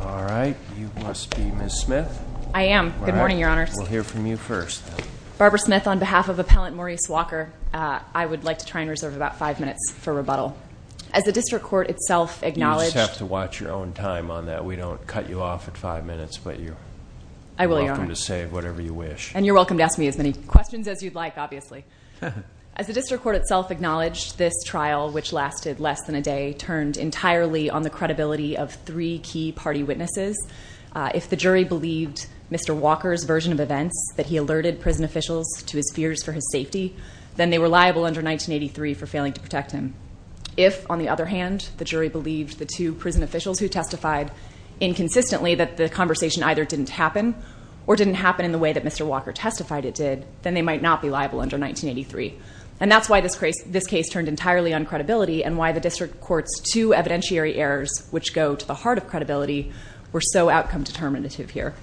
All right, you must be Ms. Smith. I am. Good morning, Your Honors. We'll hear from you first. Barbara Smith on behalf of Appellant Maurice Walker, I would like to try and reserve about five minutes for rebuttal. As the district court itself acknowledged- You just have to watch your own time on that. We don't cut you off at five minutes, but you're welcome to say whatever you wish. And you're welcome to ask me as many questions as you'd like, obviously. As the district court itself acknowledged, this trial, which lasted less than a day, turned entirely on the credibility of three key party witnesses. If the jury believed Mr. Walker's version of events, that he alerted prison officials to his fears for his safety, then they were liable under 1983 for failing to protect him. If, on the other hand, the jury believed the two prison officials who testified inconsistently that the conversation either didn't happen or didn't happen in the way that Mr. Walker testified it did, then they might not be liable under 1983. And that's why this case turned entirely on credibility and why the district court's two evidentiary errors, which go to the heart of credibility, were so outcome determinative here.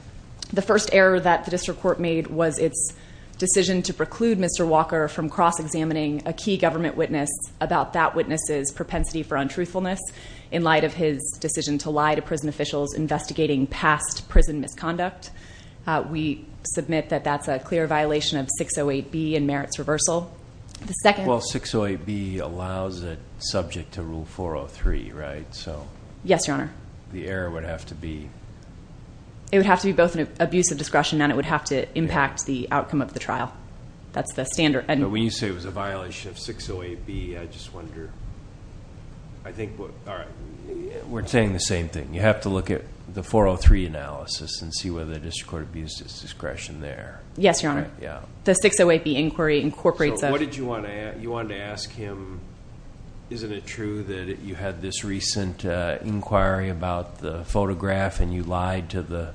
The first error that the district court made was its decision to preclude Mr. Walker from cross-examining a key government witness about that witness's propensity for untruthfulness in light of his decision to lie to prison officials investigating past prison misconduct. We submit that that's a clear violation of 608B and merits reversal. Well, 608B allows it subject to Rule 403, right? Yes, Your Honor. The error would have to be? It would have to be both an abuse of discretion and it would have to impact the outcome of the trial. That's the standard. When you say it was a violation of 608B, I just wonder... We're saying the same thing. You have to look at the 403 analysis and see whether the district court abused its discretion there. Yes, Your Honor. The 608B inquiry incorporates... What did you want to ask? You wanted to ask him, isn't it true that you had this recent inquiry about the photograph and you lied to the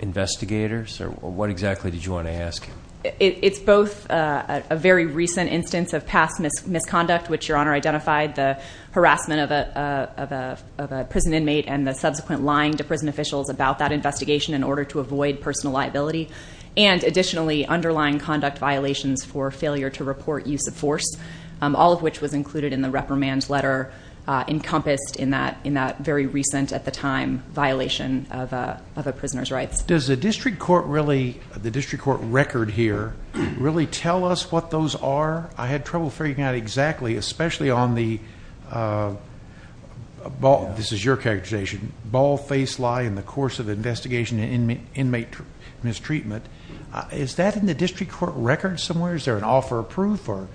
investigators? What exactly did you want to ask him? It's both a very recent instance of past misconduct, which Your Honor identified, the harassment of a prison inmate and the subsequent lying to prison officials about that investigation in order to avoid personal liability. And additionally, underlying conduct violations for failure to report use of force, all of which was included in the reprimand letter encompassed in that very recent, at the time, violation of a prisoner's rights. Does the district court record here really tell us what those are? I had trouble figuring out exactly, especially on the, this is your characterization, ball face lie in the course of investigation inmate mistreatment. Is that in the district court record somewhere? Is there an offer of proof? Or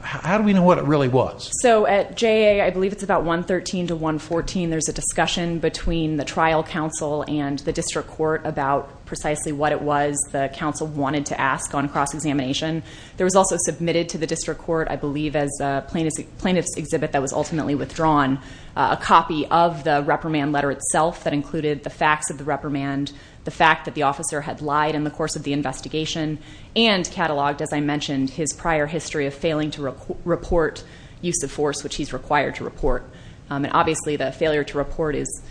how do we know what it really was? So at JA, I believe it's about 113 to 114, there's a discussion between the trial council and the district court about precisely what it was the council wanted to ask on cross-examination. There was also submitted to the district court, I believe as a plaintiff's exhibit that was ultimately withdrawn, a copy of the reprimand letter itself that included the facts of the reprimand, the fact that the officer had lied in the course of the investigation and cataloged, as I mentioned, his prior history of failing to report use of force, which he's required to report. And obviously the failure to report is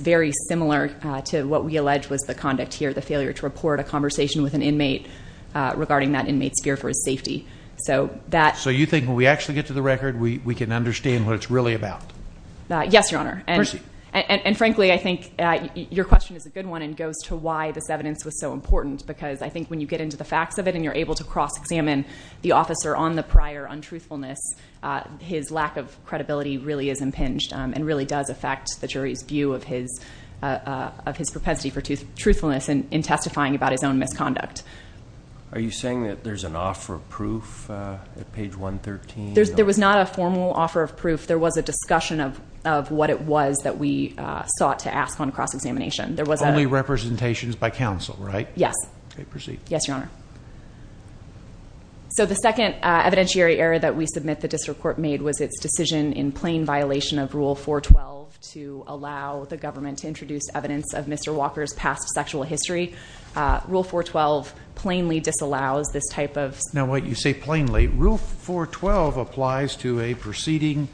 very similar to what we allege was the conduct here, the failure to report a conversation with an inmate regarding that inmate's fear for his safety. So you think when we actually get to the record, we can understand what it's really about? Yes, Your Honor, and frankly, I think your question is a good one and goes to why this evidence was so important. Because I think when you get into the facts of it and you're able to cross-examine the officer on the prior untruthfulness, his lack of credibility really is impinged and really does affect the jury's view of his propensity for truthfulness in testifying about his own misconduct. Are you saying that there's an offer of proof at page 113? There was not a formal offer of proof. There was a discussion of what it was that we sought to ask on cross-examination. There was a... Only representations by counsel, right? Yes. Okay, proceed. Yes, Your Honor. So the second evidentiary error that we submit the district court made was its decision in plain violation of Rule 412 to allow the government to introduce evidence of Mr. Walker's past sexual history. Rule 412 plainly disallows this type of... Now wait, you say plainly. Rule 412 applies to a proceeding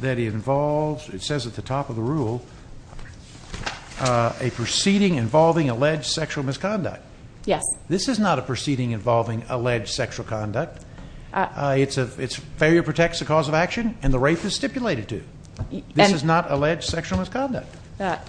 that involves... It says at the top of the rule a proceeding involving alleged sexual misconduct. Yes. This is not a proceeding involving alleged sexual conduct. It's failure protects the cause of action and the rape is stipulated to. This is not alleged sexual misconduct.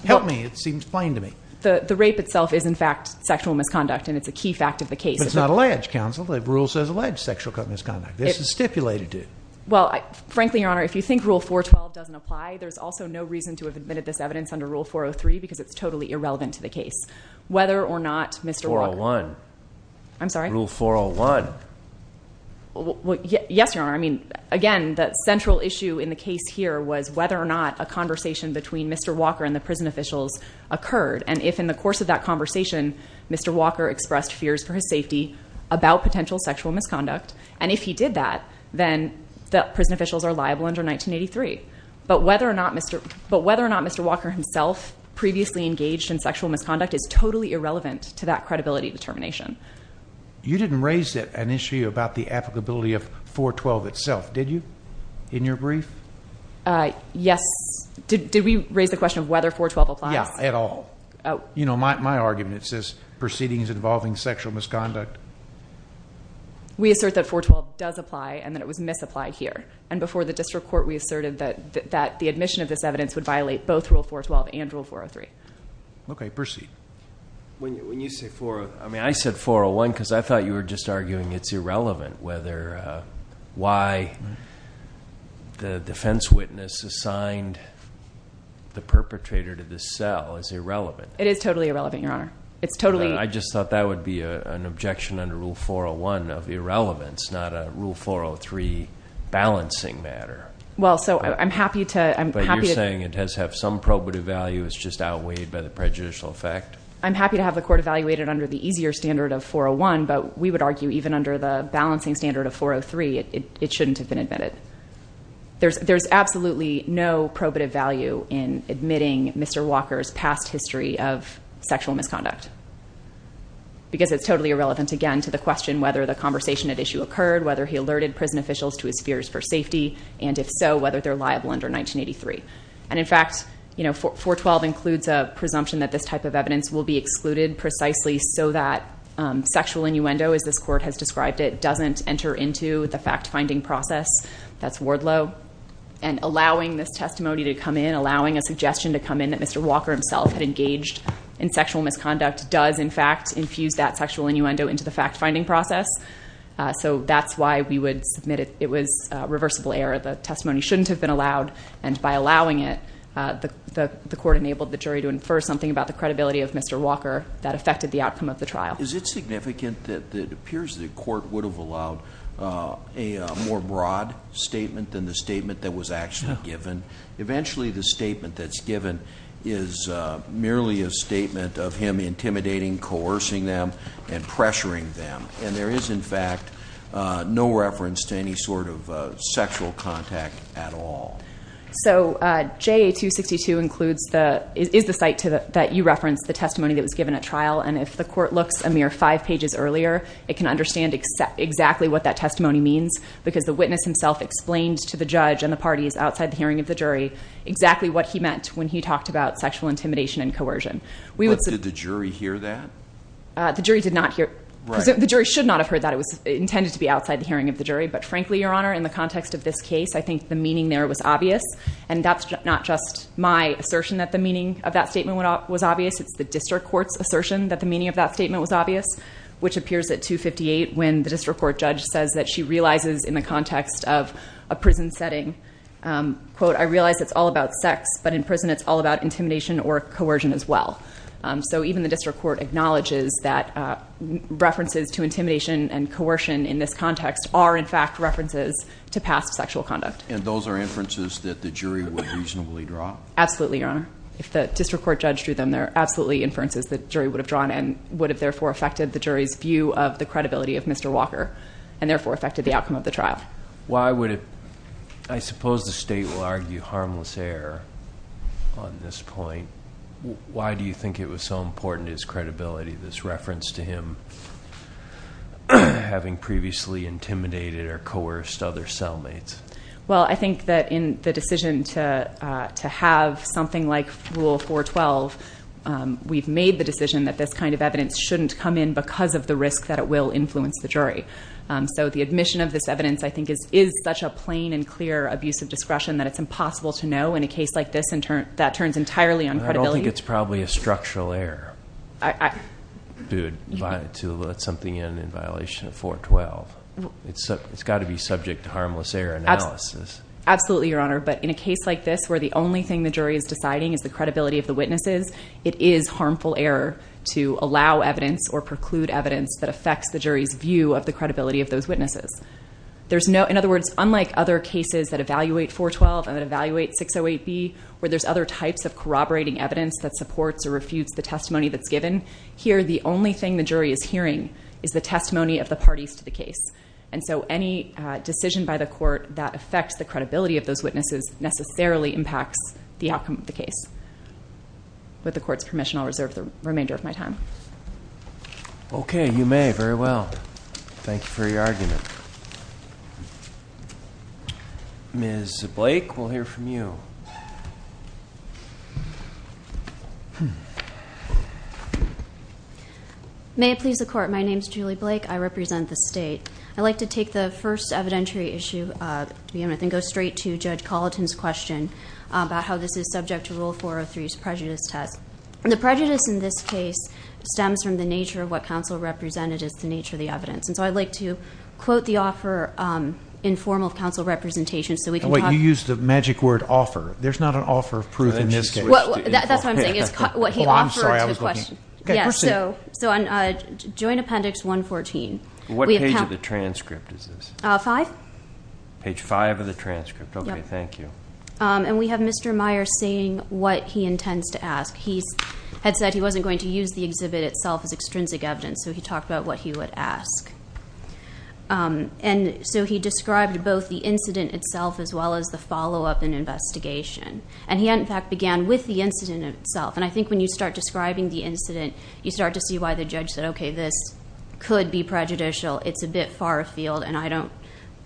Help me, it seems plain to me. The rape itself is in fact sexual misconduct and it's a key fact of the case. But it's not alleged, counsel. Rule says alleged sexual misconduct. This is stipulated to. Well, frankly, Your Honor, if you think Rule 412 doesn't apply, there's also no reason to have admitted this evidence under Rule 403 because it's totally irrelevant to the case. Whether or not Mr. Walker... 401. I'm sorry? Rule 401. Yes, Your Honor. I mean, again, the central issue in the case here was whether or not a conversation between Mr. Walker and the prison officials occurred. And if in the course of that conversation, Mr. Walker expressed fears for his safety about potential sexual misconduct. And if he did that, then the prison officials are liable under 1983. But whether or not Mr. Walker himself previously engaged in sexual misconduct is totally irrelevant to that credibility determination. You didn't raise an issue about the applicability of 412 itself, did you? In your brief? Yes. Did we raise the question of whether 412 applies? Yeah, at all. You know, my argument says proceedings involving sexual misconduct. We assert that 412 does apply and that it was misapplied here. And before the district court, we asserted that the admission of this evidence would violate both Rule 412 and Rule 403. Okay, proceed. When you say 401, I mean, I said 401 because I thought you were just arguing it's irrelevant assigned the perpetrator to the cell is irrelevant. It is totally irrelevant, Your Honor. I just thought that would be an objection under Rule 401 of irrelevance, not a Rule 403 balancing matter. Well, so I'm happy to... But you're saying it has some probative value is just outweighed by the prejudicial effect. I'm happy to have the court evaluated under the easier standard of 401. But we would argue even under the balancing standard of 403, it shouldn't have been admitted. There's absolutely no probative value in admitting Mr. Walker's past history of sexual misconduct because it's totally irrelevant, again, to the question whether the conversation at issue occurred, whether he alerted prison officials to his fears for safety. And if so, whether they're liable under 1983. And in fact, 412 includes a presumption that this type of evidence will be excluded precisely so that sexual innuendo, as this court has described it, doesn't enter into the fact-finding process. That's Wardlow. And allowing this testimony to come in, allowing a suggestion to come in that Mr. Walker himself had engaged in sexual misconduct does, in fact, infuse that sexual innuendo into the fact-finding process. So that's why we would submit it was a reversible error. The testimony shouldn't have been allowed. And by allowing it, the court enabled the jury to infer something about the credibility of Mr. Walker that affected the outcome of the trial. Is it significant that it appears the court would have allowed a more broad statement than the statement that was actually given? Eventually, the statement that's given is merely a statement of him intimidating, coercing them, and pressuring them. And there is, in fact, no reference to any sort of sexual contact at all. So JA-262 is the site that you referenced, the testimony that was given at trial. And if the court looks a mere five pages earlier, it can understand exactly what that testimony means because the witness himself explained to the judge and the parties outside the hearing of the jury exactly what he meant when he talked about sexual intimidation and coercion. But did the jury hear that? The jury did not hear it. The jury should not have heard that. It was intended to be outside the hearing of the jury. But frankly, Your Honor, in the context of this case, I think the meaning there was obvious. And that's not just my assertion that the meaning of that statement was obvious. It's the district court's assertion that the meaning of that statement was obvious, which appears at 258 when the district court judge says that she realizes in the context of a prison setting, quote, I realize it's all about sex, but in prison, it's all about intimidation or coercion as well. So even the district court acknowledges that references to intimidation and coercion in this context are in fact references to past sexual conduct. And those are inferences that the jury would reasonably draw? Absolutely, Your Honor. If the district court judge drew them, they're absolutely inferences that jury would have drawn and would have therefore affected the jury's view of the credibility of Mr. Walker and therefore affected the outcome of the trial. Why would it? I suppose the state will argue harmless error on this point. Why do you think it was so important to his credibility, this reference to him having previously intimidated or coerced other cellmates? Well, I think that in the decision to have something like Rule 412, we've made the decision that this kind of evidence shouldn't come in because of the risk that it will influence the jury. So the admission of this evidence, I think, is such a plain and clear abuse of discretion that it's impossible to know in a case like this that turns entirely on credibility. I don't think it's probably a structural error to let something in in violation of 412. It's got to be subject to harmless error analysis. Absolutely, Your Honor. But in a case like this where the only thing the jury is deciding is the credibility of the witnesses, it is harmful error to allow evidence or preclude evidence that affects the jury's view of the credibility of those witnesses. In other words, unlike other cases that evaluate 412 and that evaluate 608B, where there's other types of corroborating evidence that supports or refutes the testimony that's given, here the only thing the jury is hearing is the testimony of the parties to the case. And so any decision by the court that affects the credibility of those witnesses necessarily impacts the outcome of the case. With the court's permission, I'll reserve the remainder of my time. Okay, you may. Very well. Thank you for your argument. Ms. Blake, we'll hear from you. May it please the court. My name is Julie Blake. I represent the state. I'd like to take the first evidentiary issue, then go straight to Judge Colleton's question about how this is subject to Rule 403's prejudice test. And the prejudice in this case stems from the nature of what counsel represented as the nature of the evidence. And so I'd like to quote the offer in form of counsel representation You used the magic word offer. There's not an offer of proof in this case. That's what I'm saying. It's what he offered to the question. So on Joint Appendix 114. What page of the transcript is this? Five. Page five of the transcript. Okay, thank you. And we have Mr. Meyer saying what he intends to ask. He had said he wasn't going to use the exhibit itself as extrinsic evidence. So he talked about what he would ask. And so he described both the incident itself as well as the follow-up and investigation. And he in fact began with the incident itself. And I think when you start describing the incident, you start to see why the judge said, okay, this could be prejudicial. It's a bit far afield. And I don't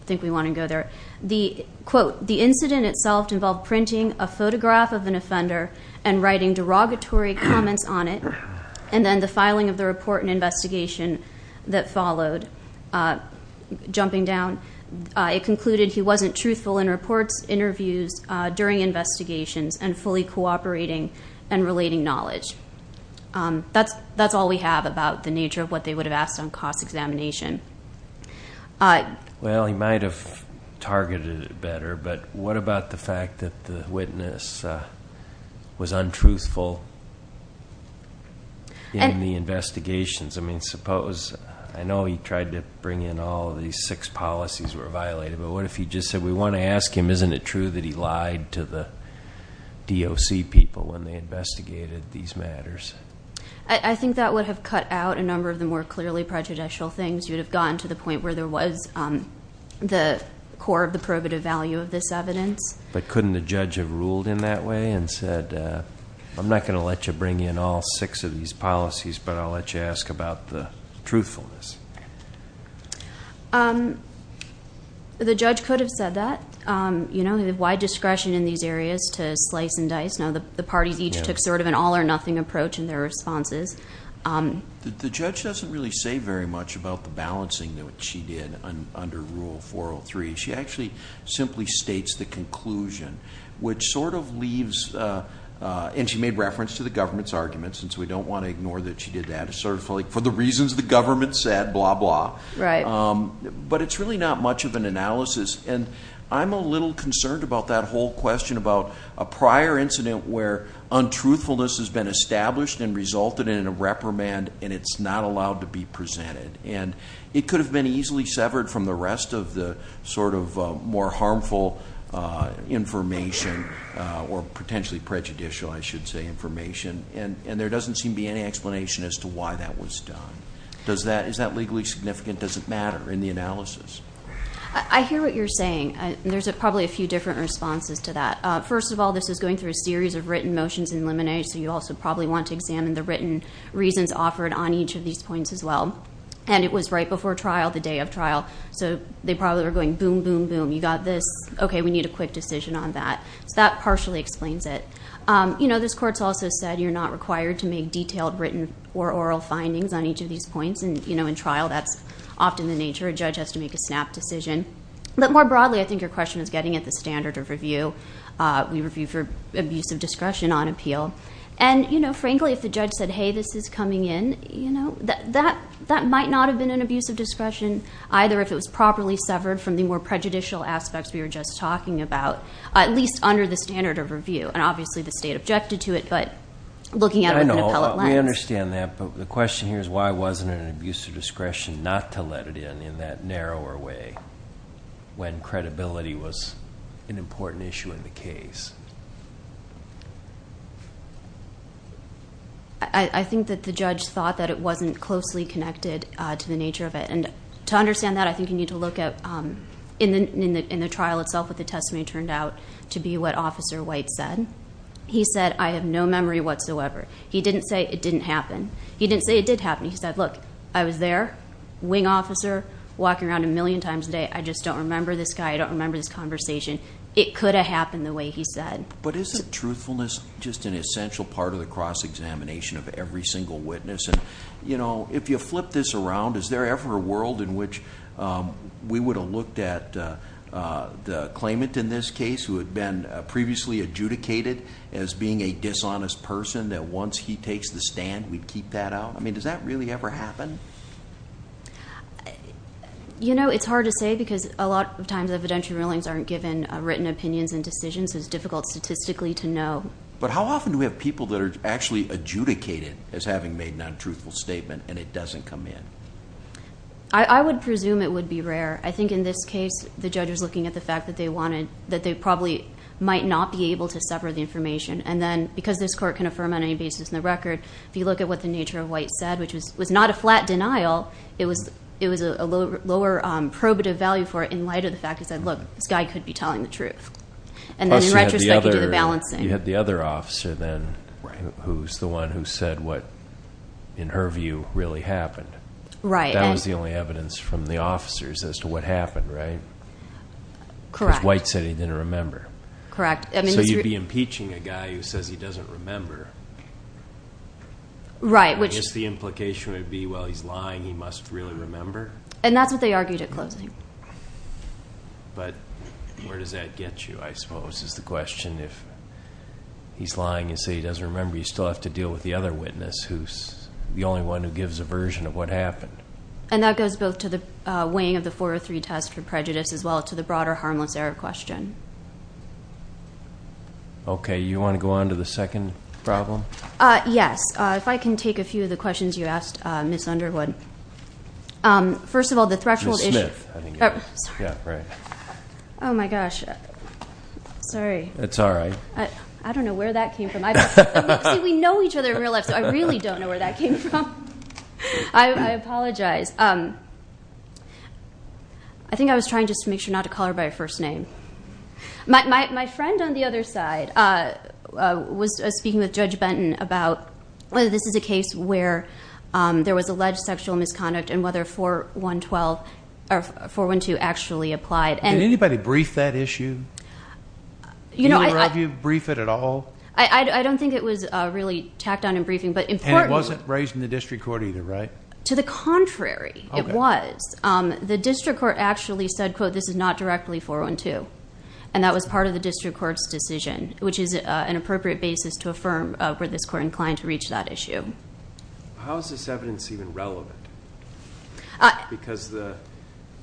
think we want to go there. The quote, the incident itself involved printing a photograph of an offender and writing derogatory comments on it. And then the filing of the report and investigation that followed jumping down. It concluded he wasn't truthful in reports, interviews, during investigations, and fully cooperating and relating knowledge. That's all we have about the nature of what they would have asked on cost examination. Well, he might have targeted it better. But what about the fact that the witness was untruthful in the investigations? I mean, suppose, I know he tried to bring in all of these six policies that were violated. But what if he just said, we want to ask him, isn't it true that he lied to the DOC people when they investigated these matters? I think that would have cut out a number of the more clearly prejudicial things. You'd have gotten to the point where there was the core of the probative value of this evidence. But couldn't the judge have ruled in that way and said, I'm not going to let you bring in all six of these policies, but I'll let you ask about the truthfulness. Um, the judge could have said that, um, you know, the wide discretion in these areas to slice and dice. Now, the parties each took sort of an all or nothing approach in their responses. The judge doesn't really say very much about the balancing that she did under Rule 403. She actually simply states the conclusion, which sort of leaves, and she made reference to the government's argument, since we don't want to ignore that she did that. It's sort of like, for the reasons the government said, blah, blah. Right. But it's really not much of an analysis. And I'm a little concerned about that whole question about a prior incident where untruthfulness has been established and resulted in a reprimand, and it's not allowed to be presented. And it could have been easily severed from the rest of the sort of more harmful information or potentially prejudicial, I should say, information. And there doesn't seem to be any explanation as to why that was done. Does that, is that legally significant? Does it matter in the analysis? I hear what you're saying. There's probably a few different responses to that. First of all, this is going through a series of written motions in limine. So you also probably want to examine the written reasons offered on each of these points as well. And it was right before trial, the day of trial. So they probably were going, boom, boom, boom. You got this. OK, we need a quick decision on that. So that partially explains it. You know, this court's also said you're not required to make detailed written or oral findings on each of these points. And, you know, in trial, that's often the nature. A judge has to make a snap decision. But more broadly, I think your question is getting at the standard of review. We review for abuse of discretion on appeal. And, you know, frankly, if the judge said, hey, this is coming in, you know, that that might not have been an abuse of discretion, either if it was properly severed from the more prejudicial aspects we were just talking about, at least under the standard of review. And obviously the state objected to it. But looking at it with an appellate lens. I know, we understand that. But the question here is why wasn't an abuse of discretion not to let it in, in that narrower way, when credibility was an important issue in the case? I think that the judge thought that it wasn't closely connected to the nature of it. And to understand that, I think you need to look at in the trial itself what the testimony turned out to be what Officer White said. He said, I have no memory whatsoever. He didn't say it didn't happen. He didn't say it did happen. He said, look, I was there, wing officer, walking around a million times a day. I just don't remember this guy. I don't remember this conversation. It could have happened the way he said. But isn't truthfulness just an essential part of the cross-examination of every single witness? And, you know, if you flip this around, is there ever a world in which we would have looked at the claimant in this case who had been previously adjudicated as being a dishonest person, that once he takes the stand, we'd keep that out? I mean, does that really ever happen? You know, it's hard to say because a lot of times evidentiary rulings aren't given written opinions and decisions. It's difficult statistically to know. But how often do we have people that are actually adjudicated as having made an untruthful statement and it doesn't come in? I would presume it would be rare. I think in this case, the judge was looking at the fact that they wanted, that they probably might not be able to sever the information. And then because this court can affirm on any basis in the record, if you look at what the nature of what it said, which was not a flat denial, it was a lower probative value for it in light of the fact that said, look, this guy could be telling the truth. And then in retrospect, you do the balancing. You had the other officer then, who's the one who said what in her view really happened. Right. That was the only evidence from the officers as to what happened, right? Correct. White said he didn't remember. Correct. So you'd be impeaching a guy who says he doesn't remember. Right. Which is the implication would be, well, he's lying. He must really remember. And that's what they argued at closing. But where does that get you? I suppose is the question. If he's lying and say he doesn't remember, you still have to deal with the other witness who's the only one who gives a version of what happened. And that goes both to the weighing of the 403 test for prejudice as well to the broader harmless error question. Okay. You want to go on to the second problem? Yes. If I can take a few of the questions you asked, Miss Underwood. First of all, the threshold. Oh, my gosh. Sorry. It's all right. I don't know where that came from. We know each other in real life. So I really don't know where that came from. I apologize. I think I was trying just to make sure not to call her by her first name. My friend on the other side, speaking with Judge Benton about whether this is a case where there was alleged sexual misconduct and whether 412 actually applied. Did anybody brief that issue? You know, have you briefed it at all? I don't think it was really tacked on in briefing. But it wasn't raised in the district court either, right? To the contrary, it was. The district court actually said, quote, this is not directly 412. And that was part of the district court's decision, which is an appropriate basis to affirm were this court inclined to reach that issue. How is this evidence even relevant? Because the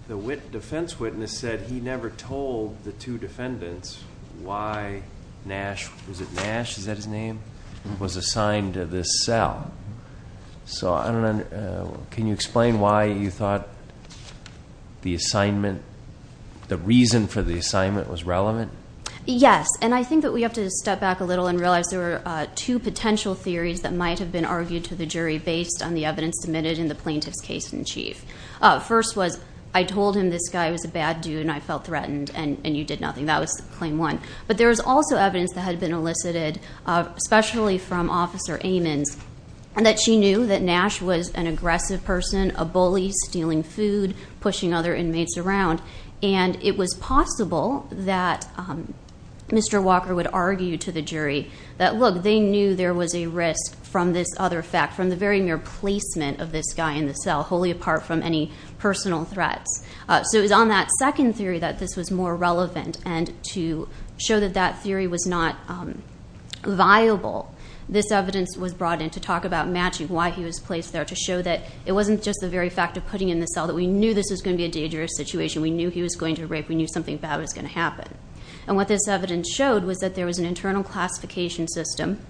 defense witness said he never told the two defendants why Nash, was it Nash? Is that his name? Was assigned to this cell. So I don't know. Can you explain why you thought the assignment, the reason for the assignment was relevant? Yes, and I think that we have to step back a little and realize there were two potential theories that might have been argued to the jury based on the evidence submitted in the plaintiff's case in chief. First was, I told him this guy was a bad dude and I felt threatened and you did nothing. That was claim one. But there was also evidence that had been elicited, especially from Officer Amons, and that she knew that Nash was an aggressive person, a bully, stealing food, pushing other inmates around. And it was possible that Mr. Walker would argue to the jury that, look, they knew there was a risk from this other fact, from the very mere placement of this guy in the cell, wholly apart from any personal threats. So it was on that second theory that this was more relevant and to show that that theory was not viable, this evidence was brought in to talk about matching why he was placed there, to show that it wasn't just the very fact of putting in the cell that we knew this was going to be a dangerous situation. We knew he was going to rape. We knew something bad was going to happen. And what this evidence showed was that there was an internal classification system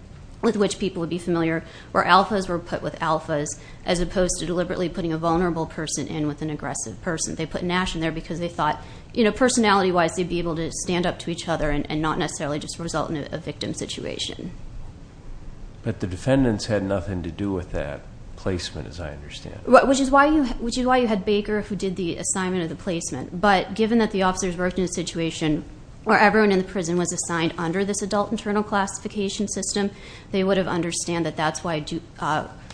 with which people would be familiar where alphas were put with alphas, as opposed to deliberately putting a vulnerable person in with an aggressive person. They put Nash in there because they thought, you know, personality-wise, they'd be able to stand up to each other and not necessarily just result in a victim situation. But the defendants had nothing to do with that placement, as I understand. Which is why you had Baker, who did the assignment of the placement. But given that the officers worked in a situation where everyone in the prison was assigned under this adult internal classification system, they would have understand that that's why,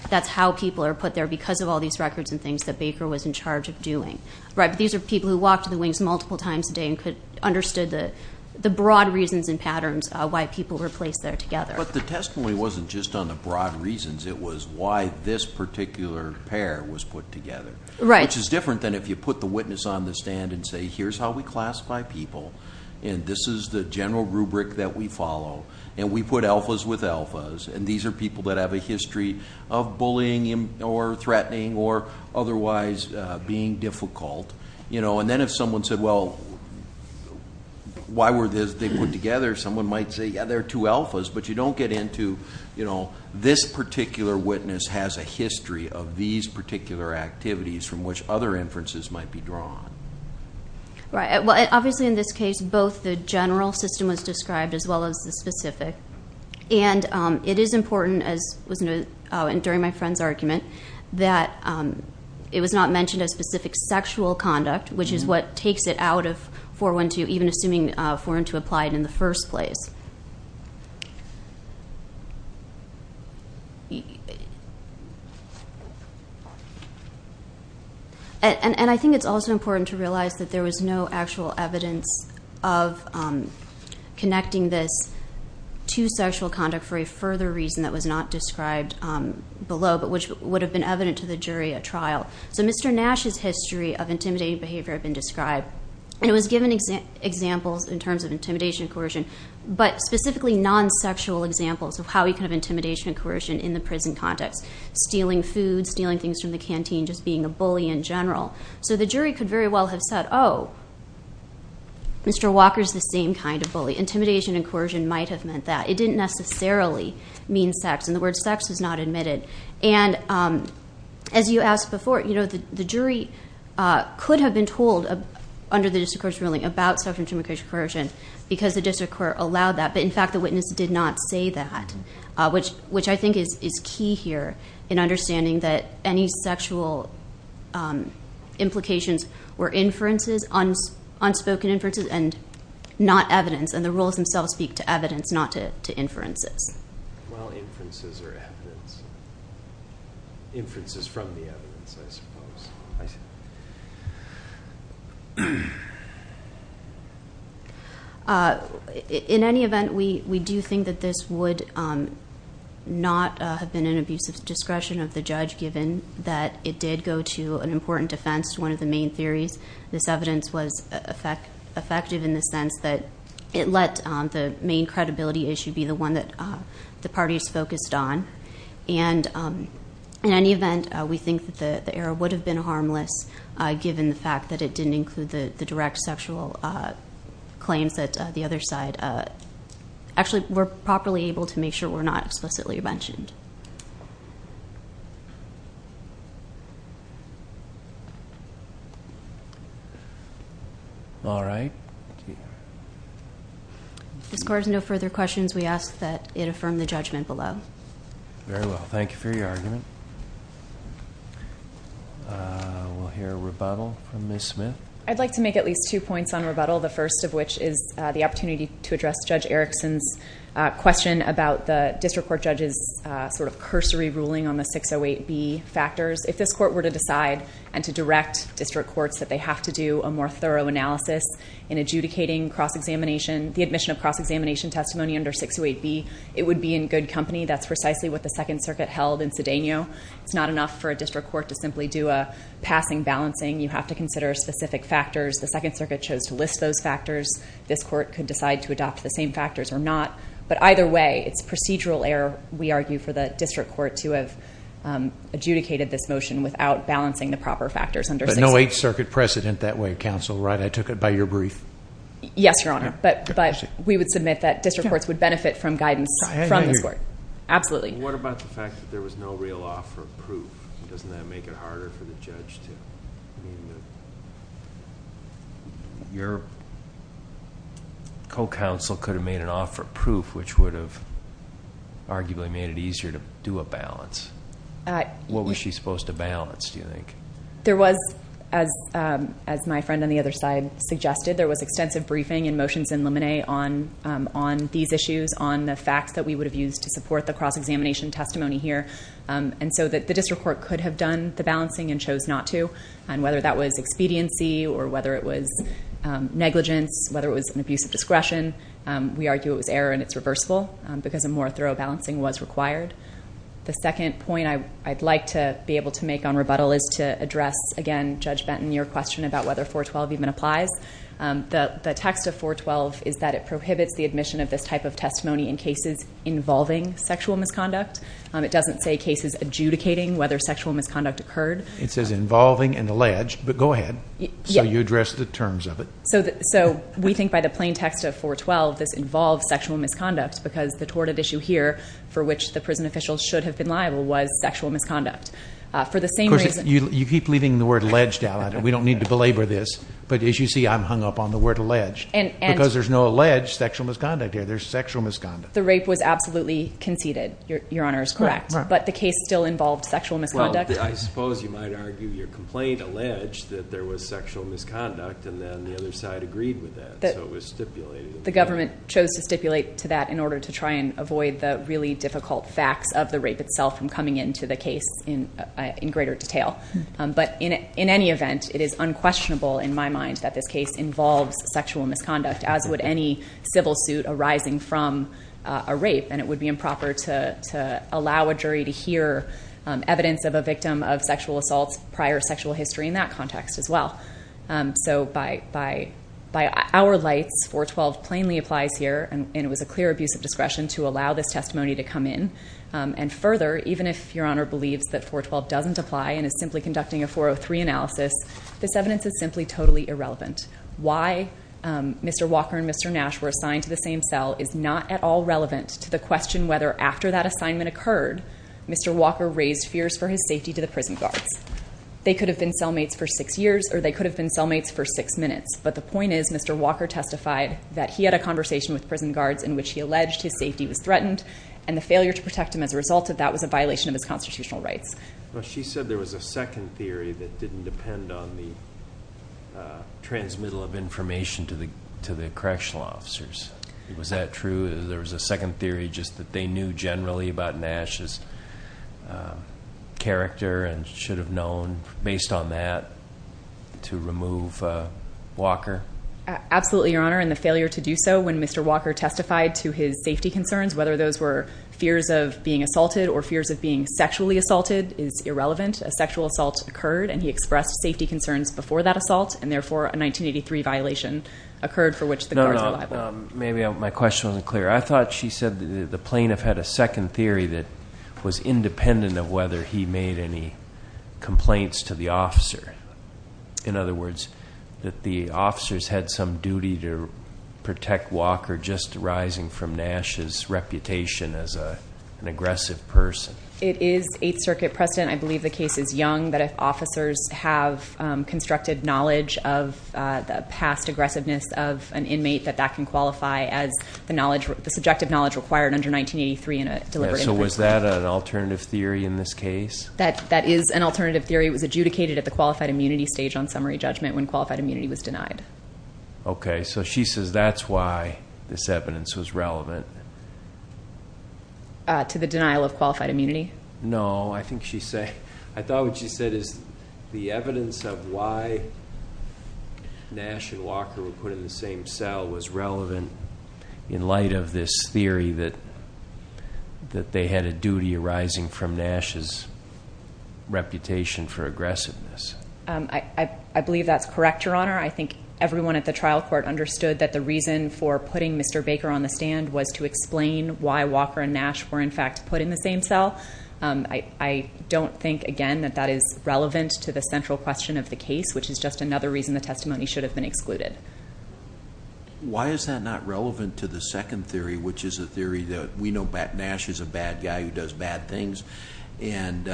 that's how people are put there because of all these records and things that Baker was in charge of doing. Right, but these are people who walked to the wings multiple times a day and could, understood the broad reasons and patterns why people were placed there together. But the testimony wasn't just on the broad reasons. It was why this particular pair was put together. Right. Which is different than if you put the witness on the stand and say, here's how we classify people. And this is the general rubric that we follow. And we put alphas with alphas. And these are people that have a history of bullying or threatening or otherwise being difficult. And then if someone said, well, why were they put together? Someone might say, yeah, they're two alphas. But you don't get into, this particular witness has a history of these particular activities from which other inferences might be drawn. Right. Well, obviously in this case, both the general system was described as well as the specific. And it is important, and during my friend's argument, that it was not mentioned a specific sexual conduct, which is what takes it out of 412, even assuming 412 applied in the first place. And I think it's also important to realize that there was no actual evidence of connecting this to sexual conduct for a further reason that was not described below, but which would have been evident to the jury at trial. So Mr. Nash's history of intimidating behavior had been described. And it was given examples in terms of intimidation and coercion, but specifically non-sexual examples of how he could have intimidation and coercion in the prison context. Stealing food, stealing things from the canteen, just being a bully in general. So the jury could very well have said, oh, Mr. Walker is the same kind of bully. Intimidation and coercion might have meant that. It didn't necessarily mean sex. And the word sex was not admitted. And as you asked before, the jury could have been told under the district court's ruling about sexual intimidation and coercion because the district court allowed that. But in fact, the witness did not say that, which I think is key here in understanding that any sexual implications were inferences, unspoken inferences and not evidence. And the rules themselves speak to evidence, not to inferences. Well, inferences are evidence. Inferences from the evidence, I suppose. In any event, we do think that this would not have been an abusive discretion of the judge, given that it did go to an important defense, one of the main theories. This evidence was effective in the sense that it let the main credibility issue be the one that the parties focused on. And in any event, we think that the error would have been harmless, given the fact that it didn't include the direct sexual claims that the other side actually were properly able to make sure were not explicitly mentioned. All right. This court has no further questions. We ask that it affirm the judgment below. Very well. Thank you for your argument. We'll hear a rebuttal from Ms. Smith. I'd like to make at least two points on rebuttal. The first of which is the opportunity to address Judge Erickson's question about the district court judge's sort of cursory ruling on the 608B factors. If this court were to decide and to direct the judge to district courts, that they have to do a more thorough analysis in adjudicating cross-examination, the admission of cross-examination testimony under 608B, it would be in good company. That's precisely what the Second Circuit held in Cedeno. It's not enough for a district court to simply do a passing balancing. You have to consider specific factors. The Second Circuit chose to list those factors. This court could decide to adopt the same factors or not. But either way, it's procedural error, we argue, for the district court to have adjudicated this motion without balancing the proper factors But no Eighth Circuit precedent that way, counsel, right? I took it by your brief. Yes, Your Honor. But we would submit that district courts would benefit from guidance from this court. Absolutely. What about the fact that there was no real offer of proof? Doesn't that make it harder for the judge to... Your co-counsel could have made an offer of proof, which would have arguably made it easier to do a balance. What was she supposed to balance, do you think? There was, as my friend on the other side suggested, there was extensive briefing and motions in limine on these issues, on the facts that we would have used to support the cross-examination testimony here. And so the district court could have done the balancing and chose not to. And whether that was expediency or whether it was negligence, whether it was an abuse of discretion, we argue it was error and it's reversible because a more thorough balancing was required. The second point I'd like to be able to make on rebuttal is to address, again, Judge Benton, your question about whether 412 even applies. The text of 412 is that it prohibits the admission of this type of testimony in cases involving sexual misconduct. It doesn't say cases adjudicating whether sexual misconduct occurred. It says involving and alleged, but go ahead. So you address the terms of it. So we think by the plain text of 412, this involves sexual misconduct because the torted issue here for which the prison officials should have been liable was sexual misconduct. For the same reason... You keep leaving the word alleged out. We don't need to belabor this. But as you see, I'm hung up on the word alleged because there's no alleged sexual misconduct here. There's sexual misconduct. The rape was absolutely conceded, Your Honor, is correct. But the case still involved sexual misconduct. I suppose you might argue your complaint alleged that there was sexual misconduct and then the other side agreed with that. So it was stipulated. The government chose to stipulate to that in order to try and avoid the really difficult facts of the rape itself from coming into the case in greater detail. But in any event, it is unquestionable in my mind that this case involves sexual misconduct, as would any civil suit arising from a rape. And it would be improper to allow a jury to hear evidence of a victim of sexual assault, prior sexual history in that context as well. So by our lights, 412 plainly applies here. And it was a clear abuse of discretion to allow this testimony to come in. And further, even if Your Honor believes that 412 doesn't apply and is simply conducting a 403 analysis, this evidence is simply totally irrelevant. Why Mr. Walker and Mr. Nash were assigned to the same cell is not at all relevant to the question whether after that assignment occurred, Mr. Walker raised fears for his safety to the prison guards. They could have been cellmates for six years or they could have been cellmates for six minutes. But the point is, Mr. Walker testified that he had a conversation with prison guards in which he alleged his safety was threatened and the failure to protect him as a result of that was a violation of his constitutional rights. Well, she said there was a second theory that didn't depend on the transmittal of information to the correctional officers. Was that true? There was a second theory just that they knew generally about Nash's character and should have known based on that to remove Walker? Absolutely, Your Honor. And the failure to do so when Mr. Walker testified to his safety concerns, whether those were fears of being assaulted or fears of being sexually assaulted is irrelevant. A sexual assault occurred and he expressed safety concerns before that assault and therefore a 1983 violation occurred for which the guards were liable. Maybe my question wasn't clear. I thought she said the plaintiff had a second theory that was independent of whether he made any complaints to the officer. In other words, that the officers had some duty to protect Walker just arising from Nash's reputation as an aggressive person. It is Eighth Circuit precedent. I believe the case is young that if officers have constructed knowledge of the past aggressiveness of an inmate that that can qualify as the knowledge, the subjective knowledge required under 1983 in a deliberate offense. So was that an alternative theory in this case? That is an alternative theory. It was adjudicated at the qualified immunity stage on summary judgment when qualified immunity was denied. Okay, so she says that's why this evidence was relevant. To the denial of qualified immunity? No, I think she said, I thought what she said is the evidence of why Nash and Walker were put in the same cell was relevant in light of this theory that they had a duty arising from Nash's reputation for aggressiveness. I believe that's correct, Your Honor. I think everyone at the trial court understood that the reason for putting Mr. Baker on the stand was to explain why Walker and Nash were in fact put in the same cell. I don't think again that that is relevant to the central question of the case, which is just another reason the testimony should have been excluded. Why is that not relevant to the second theory, which is a theory that we know Nash is a bad guy who does bad things and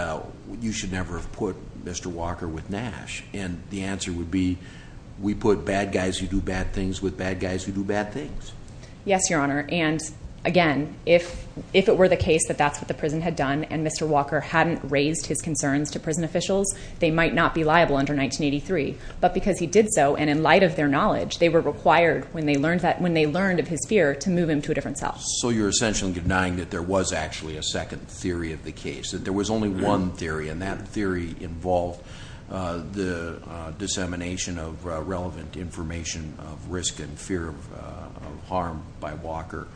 you should never have put Mr. Walker with Nash and the answer would be we put bad guys who do bad things with bad guys who do bad things. Yes, Your Honor. Again, if it were the case that that's what the prison had done and Mr. Walker hadn't raised his concerns to prison officials, they might not be liable under 1983, but because he did so and in light of their knowledge, they were required when they learned of his fear to move him to a different cell. So you're essentially denying that there was actually a second theory of the case, that there was only one theory and that theory involved the dissemination of relevant information of risk and fear of harm by Walker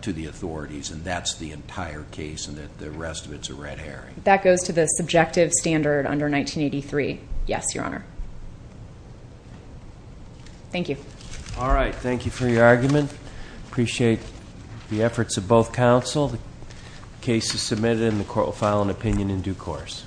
to the authorities and that's the entire case and that the rest of it's a red herring. That goes to the subjective standard under 1983. Yes, Your Honor. Thank you. All right. Thank you for your argument. Appreciate the efforts of both counsel. The case is submitted and the court will file an opinion in due course.